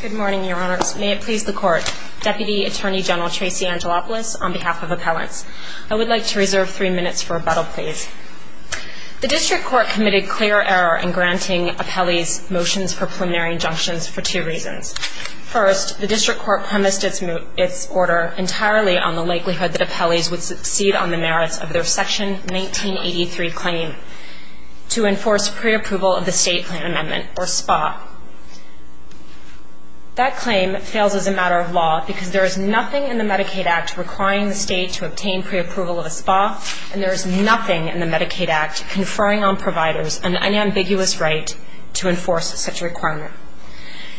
Good morning, Your Honors. May it please the Court, Deputy Attorney General Tracy Angelopoulos, on behalf of Appellants. I would like to reserve three minutes for rebuttal, please. The District Court committed clear error in granting appellees motions for preliminary injunctions for two reasons. First, the District Court premised its order entirely on the likelihood that appellees would succeed on the merits of their Section 1983 claim to enforce preapproval of the State Plan Amendment, or SPA. That claim fails as a matter of law because there is nothing in the Medicaid Act requiring the State to obtain preapproval of a SPA, and there is nothing in the Medicaid Act conferring on providers an unambiguous right to enforce such a requirement.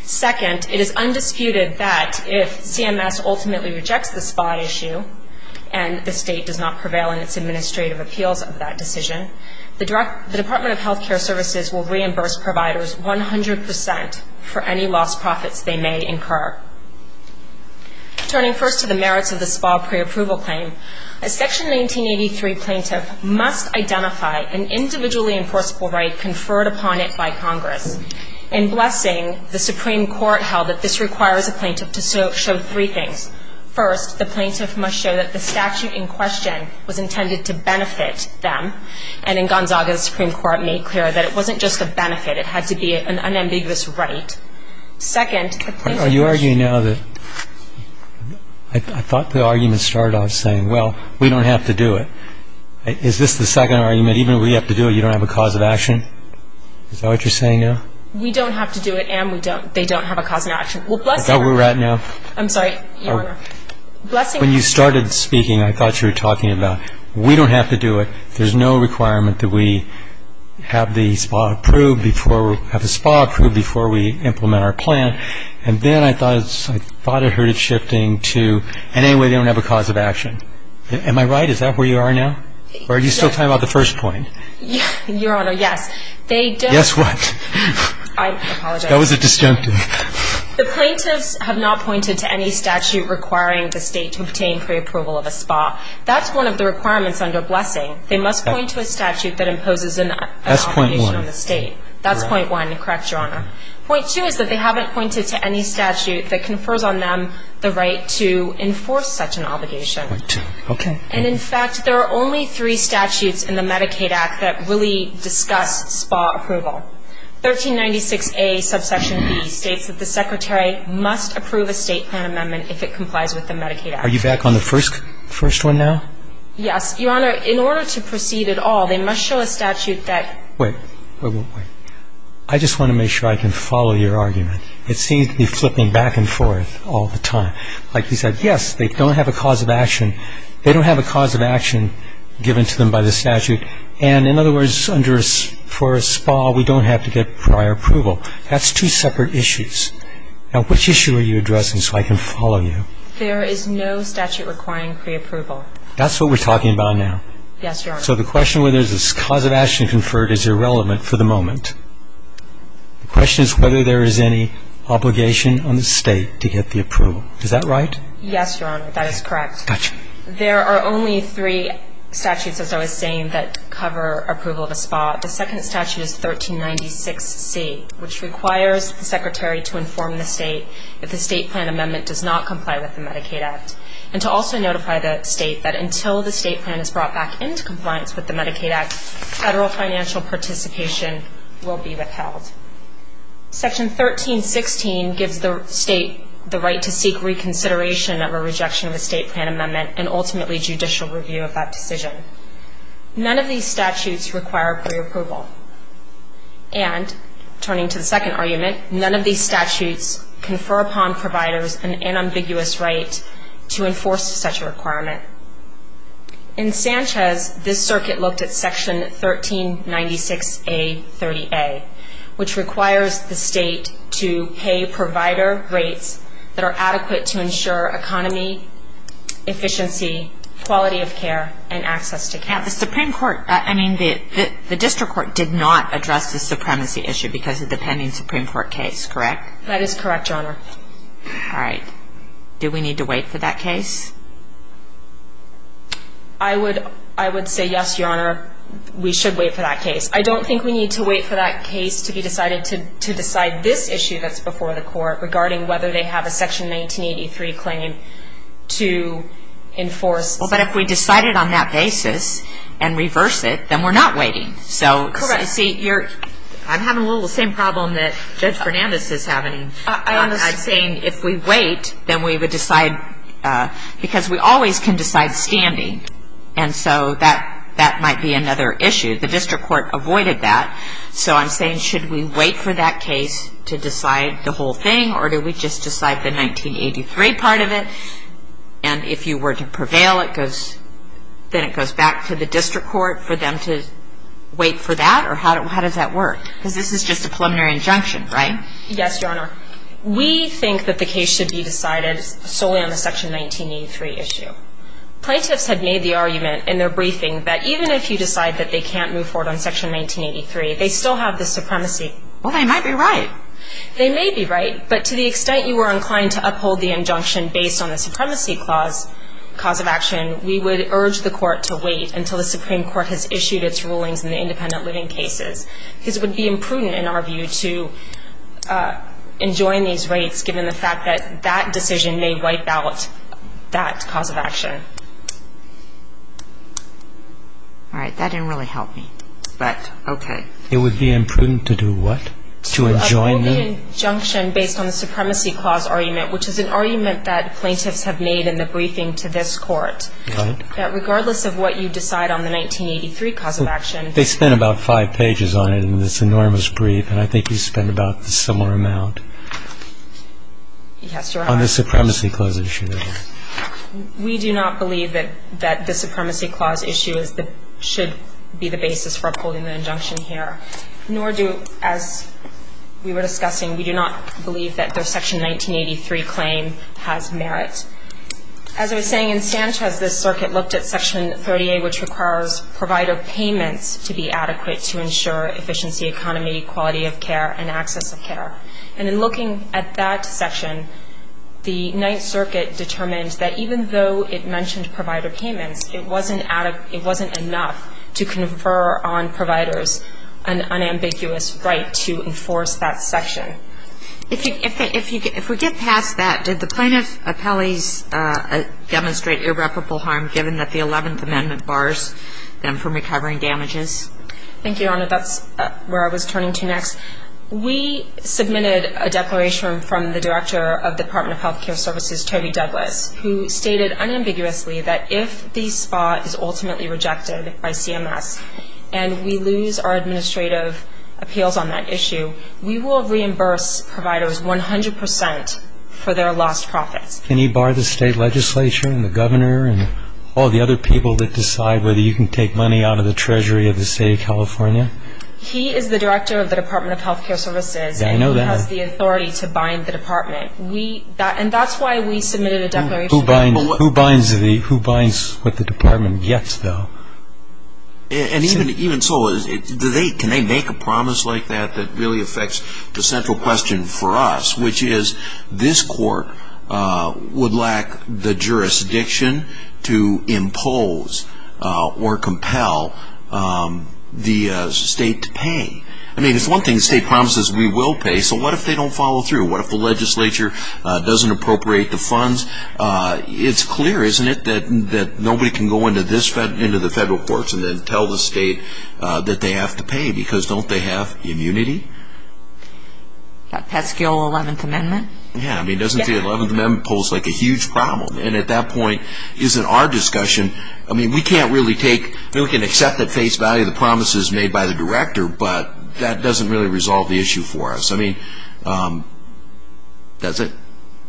Second, it is undisputed that if CMS ultimately rejects the SPA issue and the State does not prevail in its administrative appeals of that decision, the Department of Health Care Services will reimburse providers 100 percent for any lost profits they may incur. Turning first to the merits of the SPA preapproval claim, a Section 1983 plaintiff must identify an individually enforceable right conferred upon it by Congress. In blessing, the Supreme Court held that this requires a plaintiff to show three things. First, the plaintiff must show that the statute in question was intended to benefit them, and in Gonzaga, the Supreme Court made clear that it wasn't just a benefit. It had to be an unambiguous right. Second, the plaintiff ---- Are you arguing now that ---- I thought the argument started off saying, well, we don't have to do it. Is this the second argument? Even if we have to do it, you don't have a cause of action? Is that what you're saying now? We don't have to do it, and we don't ---- they don't have a cause of action. I thought we were at now. I'm sorry, Your Honor. When you started speaking, I thought you were talking about, we don't have to do it. There's no requirement that we have the SPA approved before we implement our plan. And then I thought I heard it shifting to, in any way, they don't have a cause of action. Am I right? Is that where you are now? Or are you still talking about the first point? Your Honor, yes. They don't ---- Yes, what? I apologize. That was a disjunctive. The plaintiffs have not pointed to any statute requiring the State to obtain preapproval of a SPA. That's one of the requirements under Blessing. They must point to a statute that imposes an obligation on the State. That's point one. That's point one. Correct, Your Honor. Point two is that they haven't pointed to any statute that confers on them the right to enforce such an obligation. Point two. Okay. And, in fact, there are only three statutes in the Medicaid Act that really discuss SPA approval. 1396A subsection B states that the Secretary must approve a State plan amendment if it complies with the Medicaid Act. Are you back on the first one now? Yes. Your Honor, in order to proceed at all, they must show a statute that ---- Wait. Wait, wait, wait. I just want to make sure I can follow your argument. It seems to be flipping back and forth all the time. Like you said, yes, they don't have a cause of action. They don't have a cause of action given to them by the statute. And, in other words, for a SPA, we don't have to get prior approval. That's two separate issues. Now, which issue are you addressing so I can follow you? There is no statute requiring preapproval. That's what we're talking about now. Yes, Your Honor. So the question whether there's a cause of action conferred is irrelevant for the moment. The question is whether there is any obligation on the State to get the approval. Is that right? Yes, Your Honor. That is correct. Gotcha. There are only three statutes, as I was saying, that cover approval of a SPA. The second statute is 1396C, which requires the Secretary to inform the State that the State Plan Amendment does not comply with the Medicaid Act and to also notify the State that until the State Plan is brought back into compliance with the Medicaid Act, federal financial participation will be withheld. Section 1316 gives the State the right to seek reconsideration of a rejection of a State Plan Amendment and ultimately judicial review of that decision. None of these statutes require preapproval. And, turning to the second argument, none of these statutes confer upon providers an unambiguous right to enforce such a requirement. In Sanchez, this circuit looked at Section 1396A30A, which requires the State to pay provider rates that are adequate to ensure economy, efficiency, quality of care, and access to care. The Supreme Court, I mean, the District Court did not address the supremacy issue because of the pending Supreme Court case, correct? That is correct, Your Honor. All right. Do we need to wait for that case? I would say yes, Your Honor. We should wait for that case. I don't think we need to wait for that case to be decided to decide this issue that's before the Court regarding whether they have a Section 1983 claim to enforce. Well, but if we decide it on that basis and reverse it, then we're not waiting. Correct. I'm having a little of the same problem that Judge Fernandez is having. I'm saying if we wait, then we would decide, because we always can decide standing, and so that might be another issue. The District Court avoided that. So I'm saying should we wait for that case to decide the whole thing, or do we just decide the 1983 part of it? And if you were to prevail, then it goes back to the District Court for them to wait for that? Or how does that work? Because this is just a preliminary injunction, right? Yes, Your Honor. We think that the case should be decided solely on the Section 1983 issue. Plaintiffs had made the argument in their briefing that even if you decide that they can't move forward on Section 1983, they still have the supremacy. Well, they might be right. They may be right, but to the extent you were inclined to uphold the injunction based on the supremacy cause of action, we would urge the Court to wait until the Supreme Court has issued its rulings in the independent living cases, because it would be imprudent in our view to enjoin these rights, given the fact that that decision may wipe out that cause of action. All right. That didn't really help me, but okay. It would be imprudent to do what? To enjoin them? Uphold the injunction based on the supremacy clause argument, which is an argument that plaintiffs have made in the briefing to this Court. Right. That regardless of what you decide on the 1983 cause of action. They spent about five pages on it in this enormous brief, and I think you spent about the similar amount. Yes, Your Honor. On the supremacy clause issue. We do not believe that the supremacy clause issue should be the basis for upholding the injunction here, nor do, as we were discussing, we do not believe that their Section 1983 claim has merit. As I was saying, in Sanchez, this circuit looked at Section 38, which requires provider payments to be adequate to ensure efficiency, economy, quality of care, and access of care. And in looking at that section, the Ninth Circuit determined that even though it mentioned provider payments, it wasn't enough to confer on providers an unambiguous right to enforce that section. If we get past that, did the plaintiff appellees demonstrate irreparable harm, given that the Eleventh Amendment bars them from recovering damages? Thank you, Your Honor. That's where I was turning to next. We submitted a declaration from the director of the Department of Health Care Services, Toby Douglas, who stated unambiguously that if the spot is ultimately rejected by CMS and we lose our administrative appeals on that issue, we will reimburse providers 100 percent for their lost profits. Can he bar the state legislature and the governor and all the other people that decide whether you can take money out of the treasury of the state of California? He is the director of the Department of Health Care Services. And he has the authority to bind the department. And that's why we submitted a declaration. Who binds what the department gets, though? And even so, can they make a promise like that that really affects the central question for us, which is this court would lack the jurisdiction to impose or compel the state to pay? I mean, it's one thing the state promises we will pay. So what if they don't follow through? What if the legislature doesn't appropriate the funds? It's clear, isn't it, that nobody can go into the federal courts and then tell the state that they have to pay because don't they have immunity? That pesky old 11th Amendment? Yeah, I mean, doesn't the 11th Amendment pose like a huge problem? And at that point, is it our discussion? I mean, we can accept at face value the promises made by the director, but that doesn't really resolve the issue for us. I mean, that's it.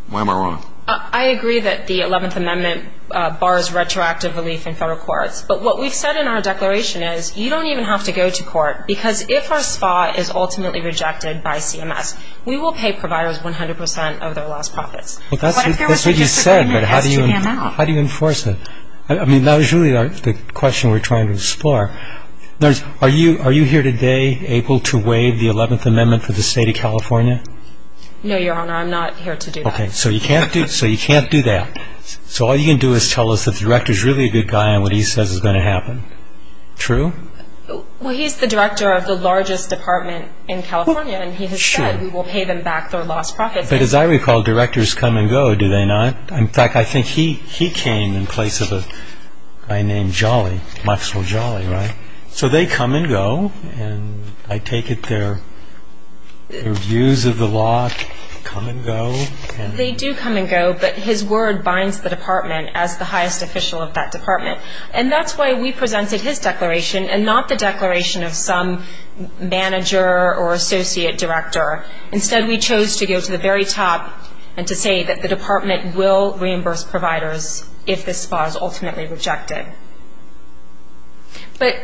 Why am I wrong? I agree that the 11th Amendment bars retroactive relief in federal courts. But what we've said in our declaration is you don't even have to go to court because if our spot is ultimately rejected by CMS, we will pay providers 100 percent of their lost profits. But that's what you said, but how do you enforce it? I mean, that was really the question we were trying to explore. Are you here today able to waive the 11th Amendment for the state of California? No, Your Honor, I'm not here to do that. Okay, so you can't do that. So all you can do is tell us that the director is really a good guy and what he says is going to happen. True? Well, he's the director of the largest department in California, and he has said we will pay them back their lost profits. But as I recall, directors come and go, do they not? In fact, I think he came in place of a guy named Jolly, Maxwell Jolly, right? So they come and go, and I take it their views of the law come and go? They do come and go, but his word binds the department as the highest official of that department. And that's why we presented his declaration and not the declaration of some manager or associate director. Instead, we chose to go to the very top and to say that the department will reimburse providers if this spot is ultimately rejected. But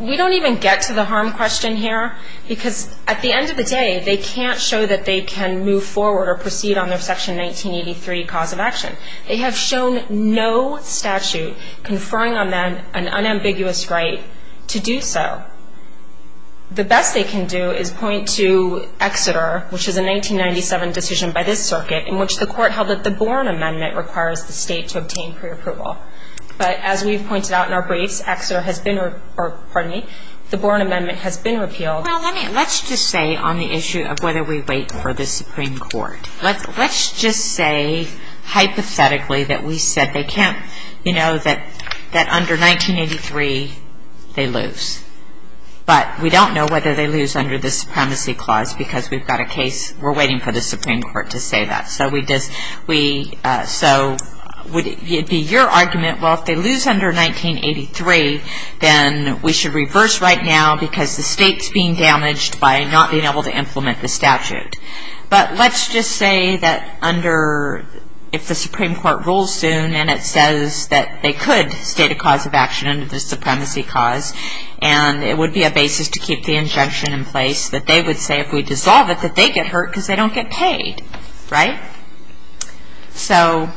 we don't even get to the harm question here, because at the end of the day they can't show that they can move forward or proceed on their Section 1983 cause of action. They have shown no statute conferring on them an unambiguous right to do so. The best they can do is point to Exeter, which is a 1997 decision by this circuit, in which the court held that the Borne Amendment requires the state to obtain pre-approval. But as we've pointed out in our briefs, Exeter has been or, pardon me, the Borne Amendment has been repealed. Well, let's just say on the issue of whether we wait for the Supreme Court, let's just say hypothetically that we said they can't, you know, that under 1983 they lose. But we don't know whether they lose under the Supremacy Clause, because we've got a case, we're waiting for the Supreme Court to say that. So would it be your argument, well, if they lose under 1983, then we should reverse right now because the state's being damaged by not being able to implement the statute. But let's just say that under, if the Supreme Court rules soon and it says that they could state a cause of action under the Supremacy Clause and it would be a basis to keep the injunction in place, that they would say if we dissolve it that they get hurt because they don't get paid, right? So...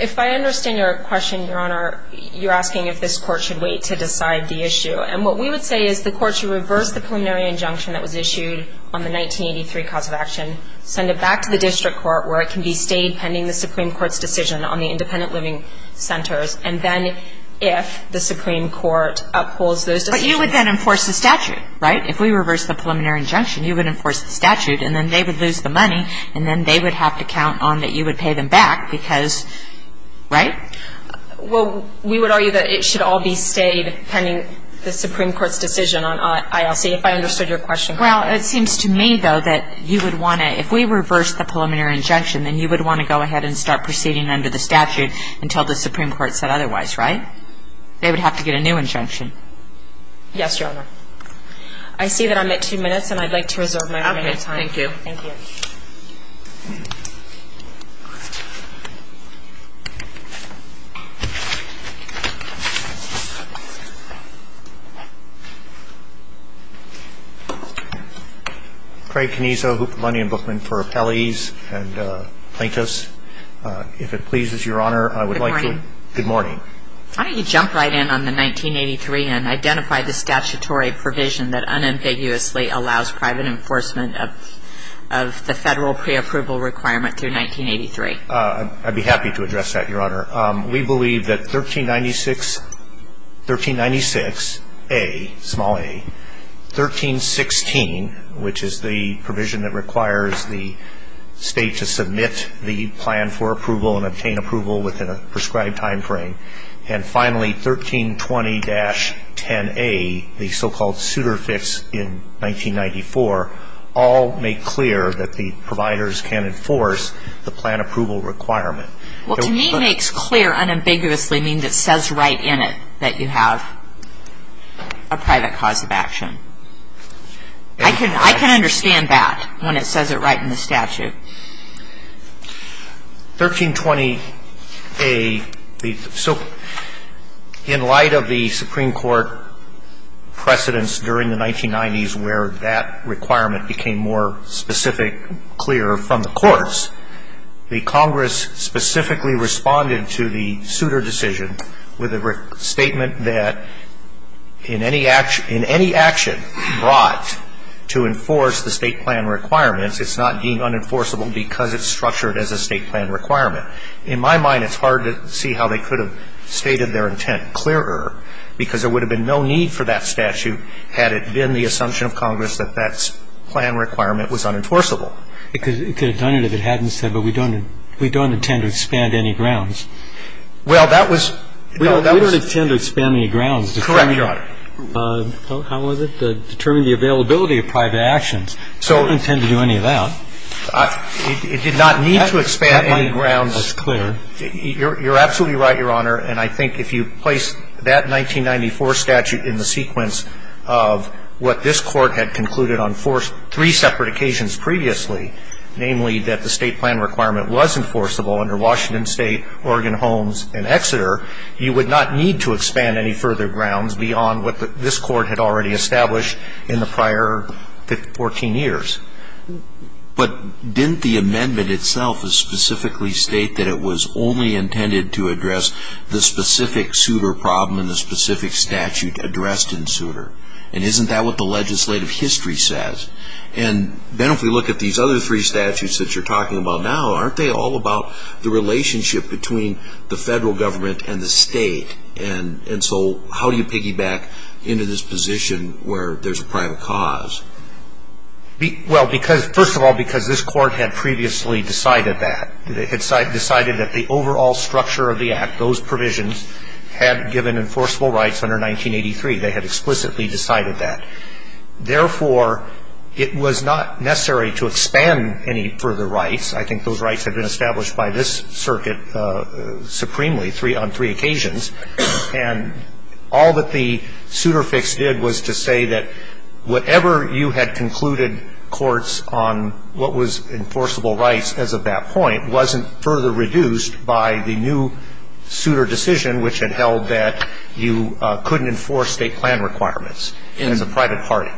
If I understand your question, Your Honor, you're asking if this court should wait to decide the issue. And what we would say is the court should reverse the preliminary injunction that was issued on the 1983 cause of action, send it back to the district court where it can be stayed pending the Supreme Court's decision on the independent living centers, and then if the Supreme Court upholds those decisions... But you would then enforce the statute, right? If we reverse the preliminary injunction, you would enforce the statute, and then they would lose the money, and then they would have to count on that you would pay them back because, right? Well, we would argue that it should all be stayed pending the Supreme Court's decision on ILC. If I understood your question correctly... Well, it seems to me, though, that you would want to... If we reverse the preliminary injunction, then you would want to go ahead and start proceeding under the statute until the Supreme Court said otherwise, right? They would have to get a new injunction. Yes, Your Honor. I see that I'm at two minutes, and I'd like to reserve my remaining time. Okay, thank you. Thank you. Craig Canizo, Hooper Money and Bookman for Appellees and Plaintiffs. If it pleases Your Honor, I would like to... Good morning. Good morning. Why don't you jump right in on the 1983 and identify the statutory provision that unambiguously allows private enforcement of the federal preapproval requirement through 1983? I'd be happy to address that, Your Honor. We believe that 1396A, small a, 1316, which is the provision that requires the state to submit the plan for approval and obtain approval within a prescribed timeframe, and finally 1320-10A, the so-called suitor fix in 1994, all make clear that the providers can enforce the plan approval requirement. Well, to me, makes clear unambiguously means it says right in it that you have a private cause of action. I can understand that when it says it right in the statute. 1320A, so in light of the Supreme Court precedents during the 1990s where that requirement became more specific, clearer from the courts, the Congress specifically responded to the suitor decision with a statement that in any action brought to enforce the state plan requirements, it's not being unenforceable because it's structured as a state plan requirement. In my mind, it's hard to see how they could have stated their intent clearer because there would have been no need for that statute had it been the assumption of Congress that that plan requirement was unenforceable. It could have done it if it hadn't said, but we don't intend to expand any grounds. Well, that was no, that was. We don't intend to expand any grounds. Correct, Your Honor. How was it? Determine the availability of private actions. So. We don't intend to do any of that. It did not need to expand any grounds. That's clear. You're absolutely right, Your Honor, and I think if you place that 1994 statute in the sequence of what this Court had concluded on three separate occasions previously, namely that the state plan requirement was enforceable under Washington State, Oregon Homes, and Exeter, you would not need to expand any further grounds beyond what this Court had already established in the prior 14 years. But didn't the amendment itself specifically state that it was only intended to address the specific suitor problem and the specific statute addressed in suitor? And isn't that what the legislative history says? And then if we look at these other three statutes that you're talking about now, aren't they all about the relationship between the federal government and the state? And so how do you piggyback into this position where there's a private cause? Well, first of all, because this Court had previously decided that. They had decided that the overall structure of the Act, those provisions had given enforceable rights under 1983. They had explicitly decided that. Therefore, it was not necessary to expand any further rights. I think those rights had been established by this Circuit supremely on three occasions. And all that the suitor fix did was to say that whatever you had concluded, on what was enforceable rights as of that point, wasn't further reduced by the new suitor decision, which had held that you couldn't enforce state plan requirements as a private party.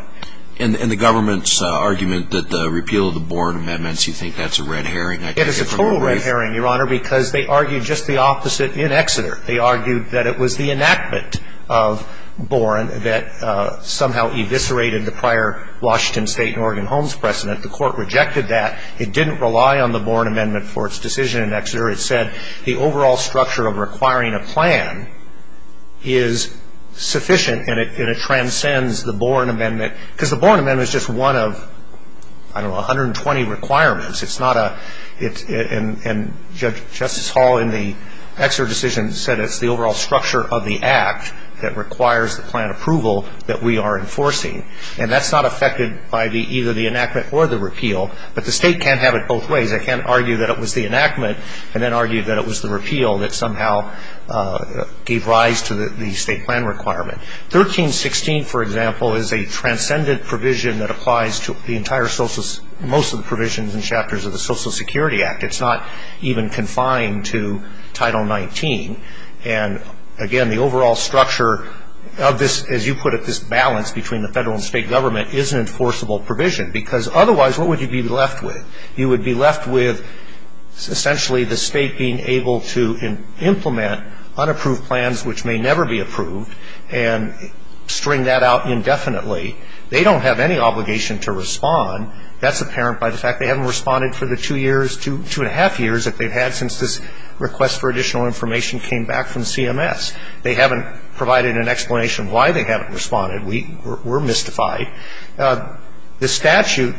And the government's argument that the repeal of the Boren amendments, you think that's a red herring? It is a total red herring, Your Honor, because they argued just the opposite in Exeter. They argued that it was the enactment of Boren that somehow eviscerated the prior Washington State and Oregon Homes precedent. The Court rejected that. It didn't rely on the Boren amendment for its decision in Exeter. It said the overall structure of requiring a plan is sufficient, and it transcends the Boren amendment, because the Boren amendment is just one of, I don't know, 120 requirements. And Justice Hall in the Exeter decision said it's the overall structure of the Act that requires the plan approval that we are enforcing. And that's not affected by either the enactment or the repeal, but the state can't have it both ways. They can't argue that it was the enactment and then argue that it was the repeal that somehow gave rise to the state plan requirement. 1316, for example, is a transcendent provision that applies to the entire social ‑‑ most of the provisions and chapters of the Social Security Act. It's not even confined to Title 19. And, again, the overall structure of this, as you put it, this balance between the federal and state government is an enforceable provision, because otherwise what would you be left with? You would be left with essentially the state being able to implement unapproved plans, which may never be approved, and string that out indefinitely. They don't have any obligation to respond. That's apparent by the fact they haven't responded for the two years, two and a half years that they've had since this request for additional information came back from CMS. They haven't provided an explanation why they haven't responded. We're mystified. The statute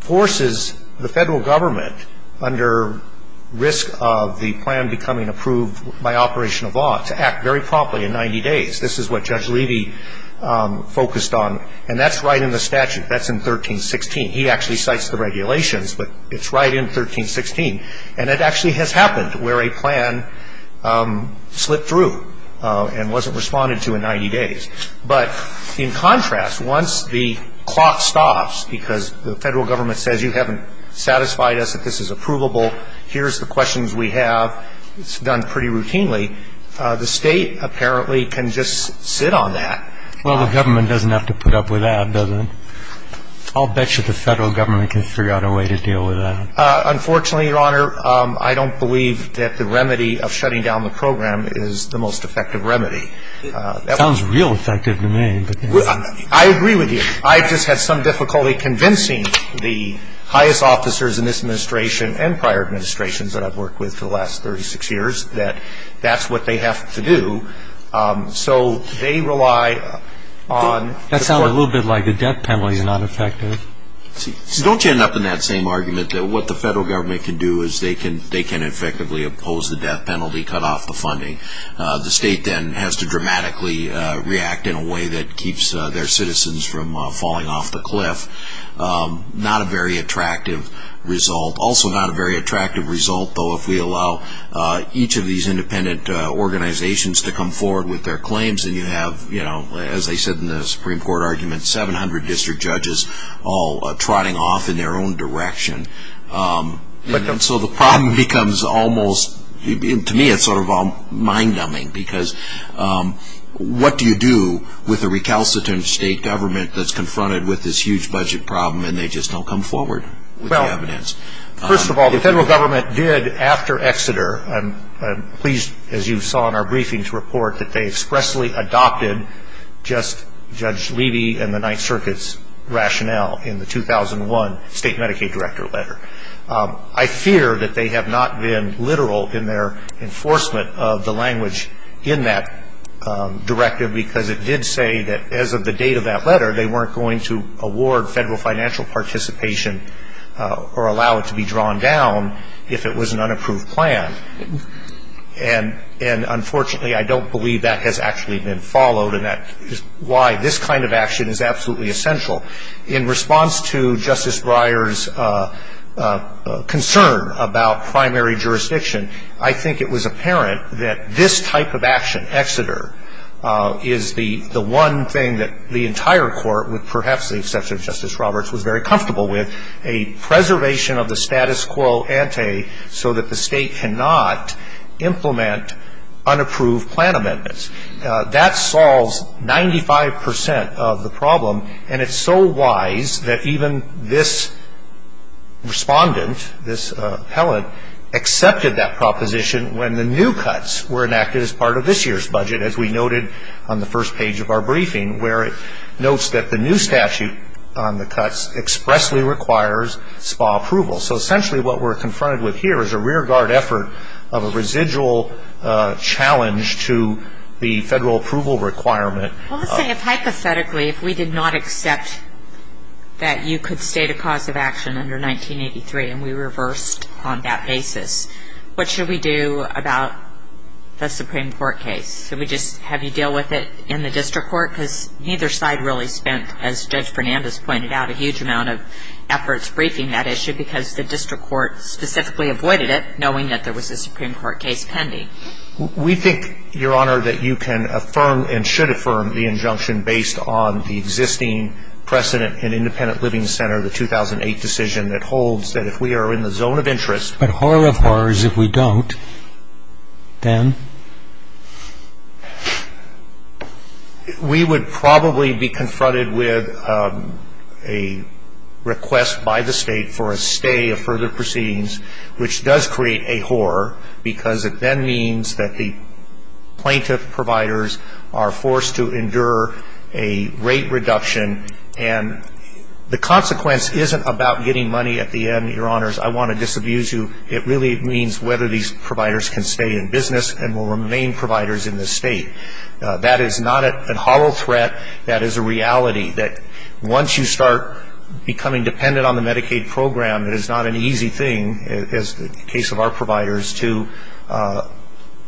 forces the federal government, under risk of the plan becoming approved by operation of law, to act very promptly in 90 days. This is what Judge Levy focused on, and that's right in the statute. That's in 1316. He actually cites the regulations, but it's right in 1316. And it actually has happened where a plan slipped through and wasn't responded to in 90 days. But, in contrast, once the clock stops because the federal government says you haven't satisfied us that this is approvable, here's the questions we have, it's done pretty routinely, the state apparently can just sit on that. Well, the government doesn't have to put up with that, does it? I'll bet you the federal government can figure out a way to deal with that. Unfortunately, Your Honor, I don't believe that the remedy of shutting down the program is the most effective remedy. That sounds real effective to me. I agree with you. I've just had some difficulty convincing the highest officers in this administration and prior administrations that I've worked with for the last 36 years that that's what they have to do. So they rely on the court. That sounds a little bit like the death penalty is not effective. Don't you end up in that same argument that what the federal government can do is they can effectively oppose the death penalty, cut off the funding. The state then has to dramatically react in a way that keeps their citizens from falling off the cliff. Not a very attractive result. Also not a very attractive result, though, if we allow each of these independent organizations to come forward with their claims and you have, as I said in the Supreme Court argument, 700 district judges all trotting off in their own direction. So the problem becomes almost, to me, it's sort of mind-numbing because what do you do with a recalcitrant state government that's confronted with this huge budget problem and they just don't come forward with the evidence? First of all, the federal government did, after Exeter, I'm pleased, as you saw in our briefing, to report that they expressly adopted just Judge Levy and the Ninth Circuit's rationale in the 2001 state Medicaid director letter. I fear that they have not been literal in their enforcement of the language in that directive because it did say that as of the date of that letter, they weren't going to award federal financial participation or allow it to be drawn down if it was an unapproved plan. And unfortunately, I don't believe that has actually been followed, and that is why this kind of action is absolutely essential. In response to Justice Breyer's concern about primary jurisdiction, I think it was apparent that this type of action, Exeter, is the one thing that the entire court, with perhaps the exception of Justice Roberts, was very comfortable with, a preservation of the status quo ante so that the state cannot implement unapproved plan amendments. That solves 95 percent of the problem, and it's so wise that even this respondent, this appellant, accepted that proposition when the new cuts were enacted as part of this year's budget, as we noted on the first page of our briefing, where it notes that the new statute on the cuts expressly requires SPA approval. So essentially what we're confronted with here is a rearguard effort of a residual challenge to the federal approval requirement. Well, let's say, hypothetically, if we did not accept that you could state a cause of action under 1983 and we reversed on that basis, what should we do about the Supreme Court case? Should we just have you deal with it in the district court? Because neither side really spent, as Judge Fernandez pointed out, a huge amount of efforts briefing that issue because the district court specifically avoided it, knowing that there was a Supreme Court case pending. We think, Your Honor, that you can affirm and should affirm the injunction based on the existing precedent in Independent Living Center, the 2008 decision, that holds that if we are in the zone of interest. But horror of horrors if we don't, then? We would probably be confronted with a request by the state for a stay of further proceedings, which does create a horror because it then means that the plaintiff providers are forced to endure a rate reduction and the consequence isn't about getting money at the end, Your Honors. I want to disabuse you. It really means whether these providers can stay in business and will remain providers in this state. That is not a horror threat. That is a reality that once you start becoming dependent on the Medicaid program, it is not an easy thing, as the case of our providers, to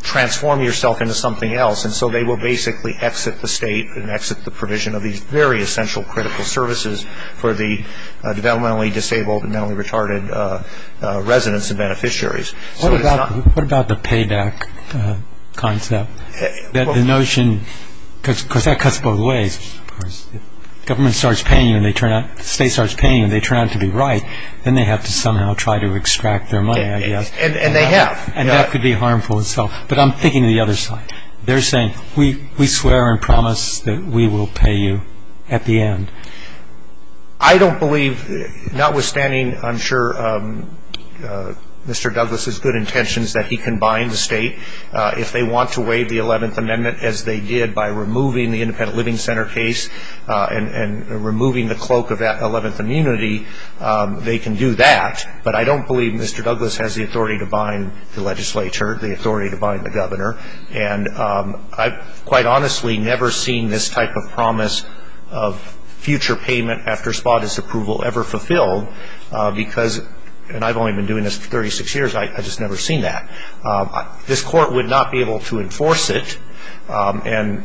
transform yourself into something else. And so they will basically exit the state and exit the provision of these very essential critical services for the developmentally disabled and mentally retarded residents and beneficiaries. What about the payback concept? The notion, because that cuts both ways. If the state starts paying and they turn out to be right, then they have to somehow try to extract their money, I guess. And they have. And that could be harmful itself. But I'm thinking of the other side. They're saying, we swear and promise that we will pay you at the end. I don't believe, notwithstanding I'm sure Mr. Douglas' good intentions, that he can bind the state. If they want to waive the 11th Amendment, as they did by removing the independent living center case and removing the cloak of that 11th immunity, they can do that. But I don't believe Mr. Douglas has the authority to bind the legislature, the authority to bind the governor. And I've quite honestly never seen this type of promise of future payment after spotted approval ever fulfilled because, and I've only been doing this for 36 years, I've just never seen that. This court would not be able to enforce it. And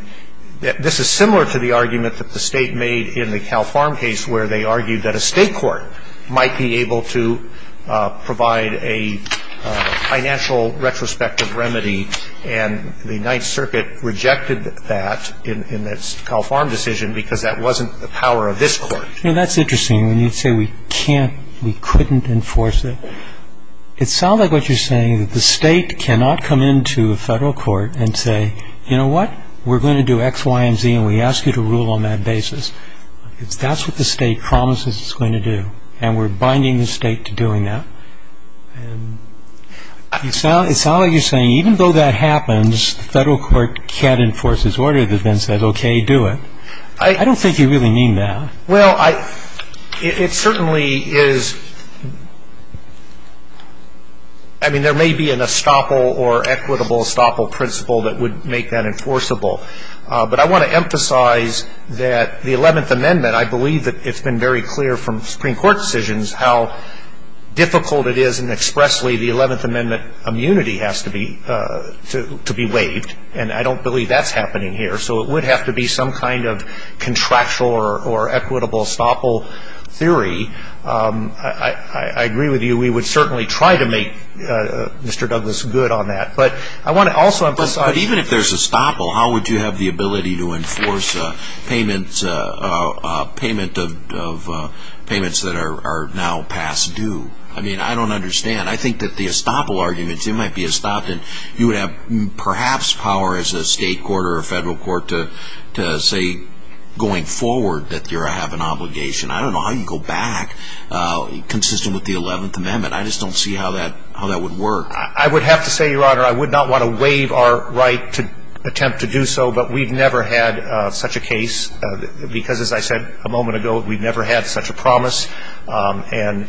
this is similar to the argument that the state made in the Cal Farm case where they argued that a state court might be able to provide a financial retrospective remedy. And the Ninth Circuit rejected that in its Cal Farm decision because that wasn't the power of this court. You know, that's interesting. When you say we can't, we couldn't enforce it, it sounds like what you're saying that the state cannot come into a federal court and say, you know what, we're going to do X, Y, and Z, and we ask you to rule on that basis. That's what the state promises it's going to do, and we're binding the state to doing that. And it sounds like you're saying even though that happens, the federal court can't enforce its order that then says, okay, do it. I don't think you really mean that. Well, it certainly is, I mean, there may be an estoppel or equitable estoppel principle that would make that enforceable. But I want to emphasize that the Eleventh Amendment, I believe that it's been very clear from Supreme Court decisions how difficult it is and expressly the Eleventh Amendment immunity has to be waived. And I don't believe that's happening here. So it would have to be some kind of contractual or equitable estoppel theory. I agree with you. We would certainly try to make Mr. Douglas good on that. But I want to also emphasize. But even if there's estoppel, how would you have the ability to enforce payments that are now past due? I mean, I don't understand. I think that the estoppel arguments, it might be estoppel, you would have perhaps power as a state court or a federal court to say going forward that you have an obligation. I don't know how you can go back consistent with the Eleventh Amendment. I just don't see how that would work. I would have to say, Your Honor, I would not want to waive our right to attempt to do so. But we've never had such a case because, as I said a moment ago, we've never had such a promise. And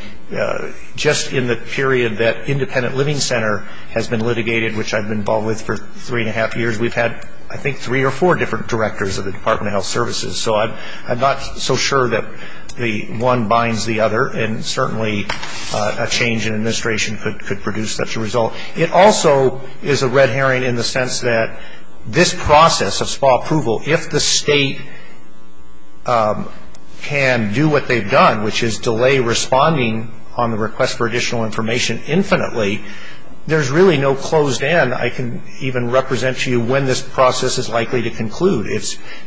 just in the period that Independent Living Center has been litigated, which I've been involved with for three and a half years, we've had I think three or four different directors of the Department of Health Services. So I'm not so sure that one binds the other. And certainly a change in administration could produce such a result. It also is a red herring in the sense that this process of small approval, if the state can do what they've done, which is delay responding on the request for additional information infinitely, there's really no closed end. I can even represent to you when this process is likely to conclude.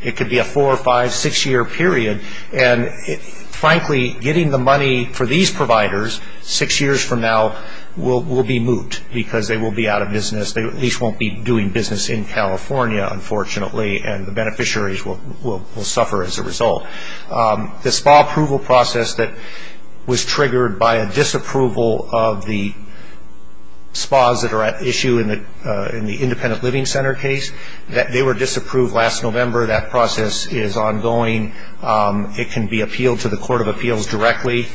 It could be a four or five, six-year period. And, frankly, getting the money for these providers six years from now will be moot because they will be out of business. They at least won't be doing business in California, unfortunately, and the beneficiaries will suffer as a result. The small approval process that was triggered by a disapproval of the spas that are at issue in the Independent Living Center case, they were disapproved last November. That process is ongoing. It can be appealed to the Court of Appeals directly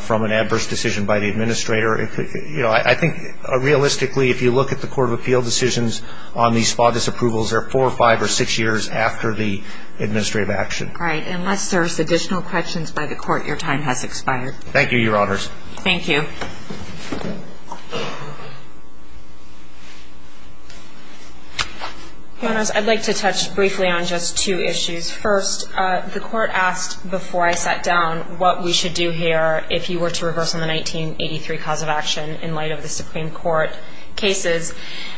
from an adverse decision by the administrator. I think, realistically, if you look at the Court of Appeal decisions on these spa disapprovals, they're four or five or six years after the administrative action. All right. Unless there's additional questions by the Court, your time has expired. Thank you, Your Honors. Thank you. Your Honors, I'd like to touch briefly on just two issues. First, the Court asked before I sat down what we should do here if you were to reverse on the 1983 cause of action in light of the Supreme Court cases.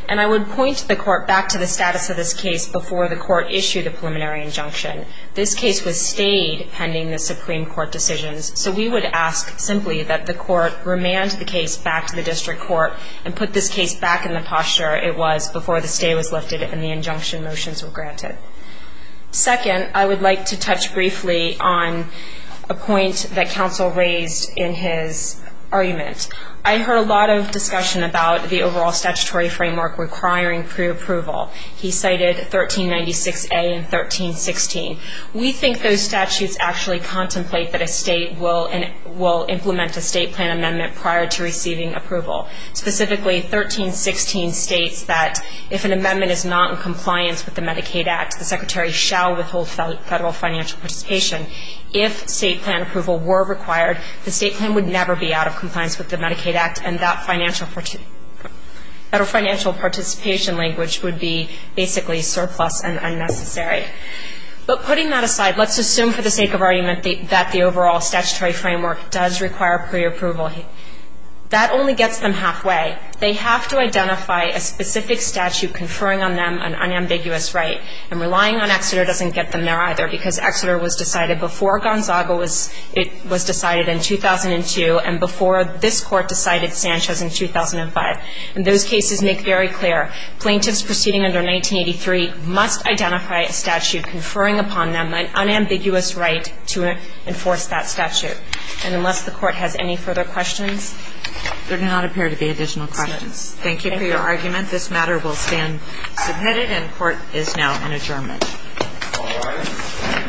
And I would point the Court back to the status of this case before the Court issued a preliminary injunction. This case was stayed pending the Supreme Court decisions, so we would ask simply that the Court remand the case back to the district court and put this case back in the posture it was before the stay was lifted and the injunction motions were granted. Second, I would like to touch briefly on a point that counsel raised in his argument. I heard a lot of discussion about the overall statutory framework requiring preapproval. He cited 1396A and 1316. We think those statutes actually contemplate that a state will implement a state plan amendment prior to receiving approval. Specifically, 1316 states that if an amendment is not in compliance with the Medicaid Act, the secretary shall withhold federal financial participation. If state plan approval were required, the state plan would never be out of compliance with the Medicaid Act and that financial participation language would be basically surplus and unnecessary. But putting that aside, let's assume for the sake of argument that the overall statutory framework does require preapproval. That only gets them halfway. They have to identify a specific statute conferring on them an unambiguous right, and relying on Exeter doesn't get them there either because Exeter was decided before Gonzaga was decided in 2002 and before this Court decided Sanchez in 2005. And those cases make very clear. Plaintiffs proceeding under 1983 must identify a statute conferring upon them an unambiguous right to enforce that statute. And unless the Court has any further questions. There do not appear to be additional questions. Thank you for your argument. This matter will stand submitted and court is now in adjournment. All rise. Thank you.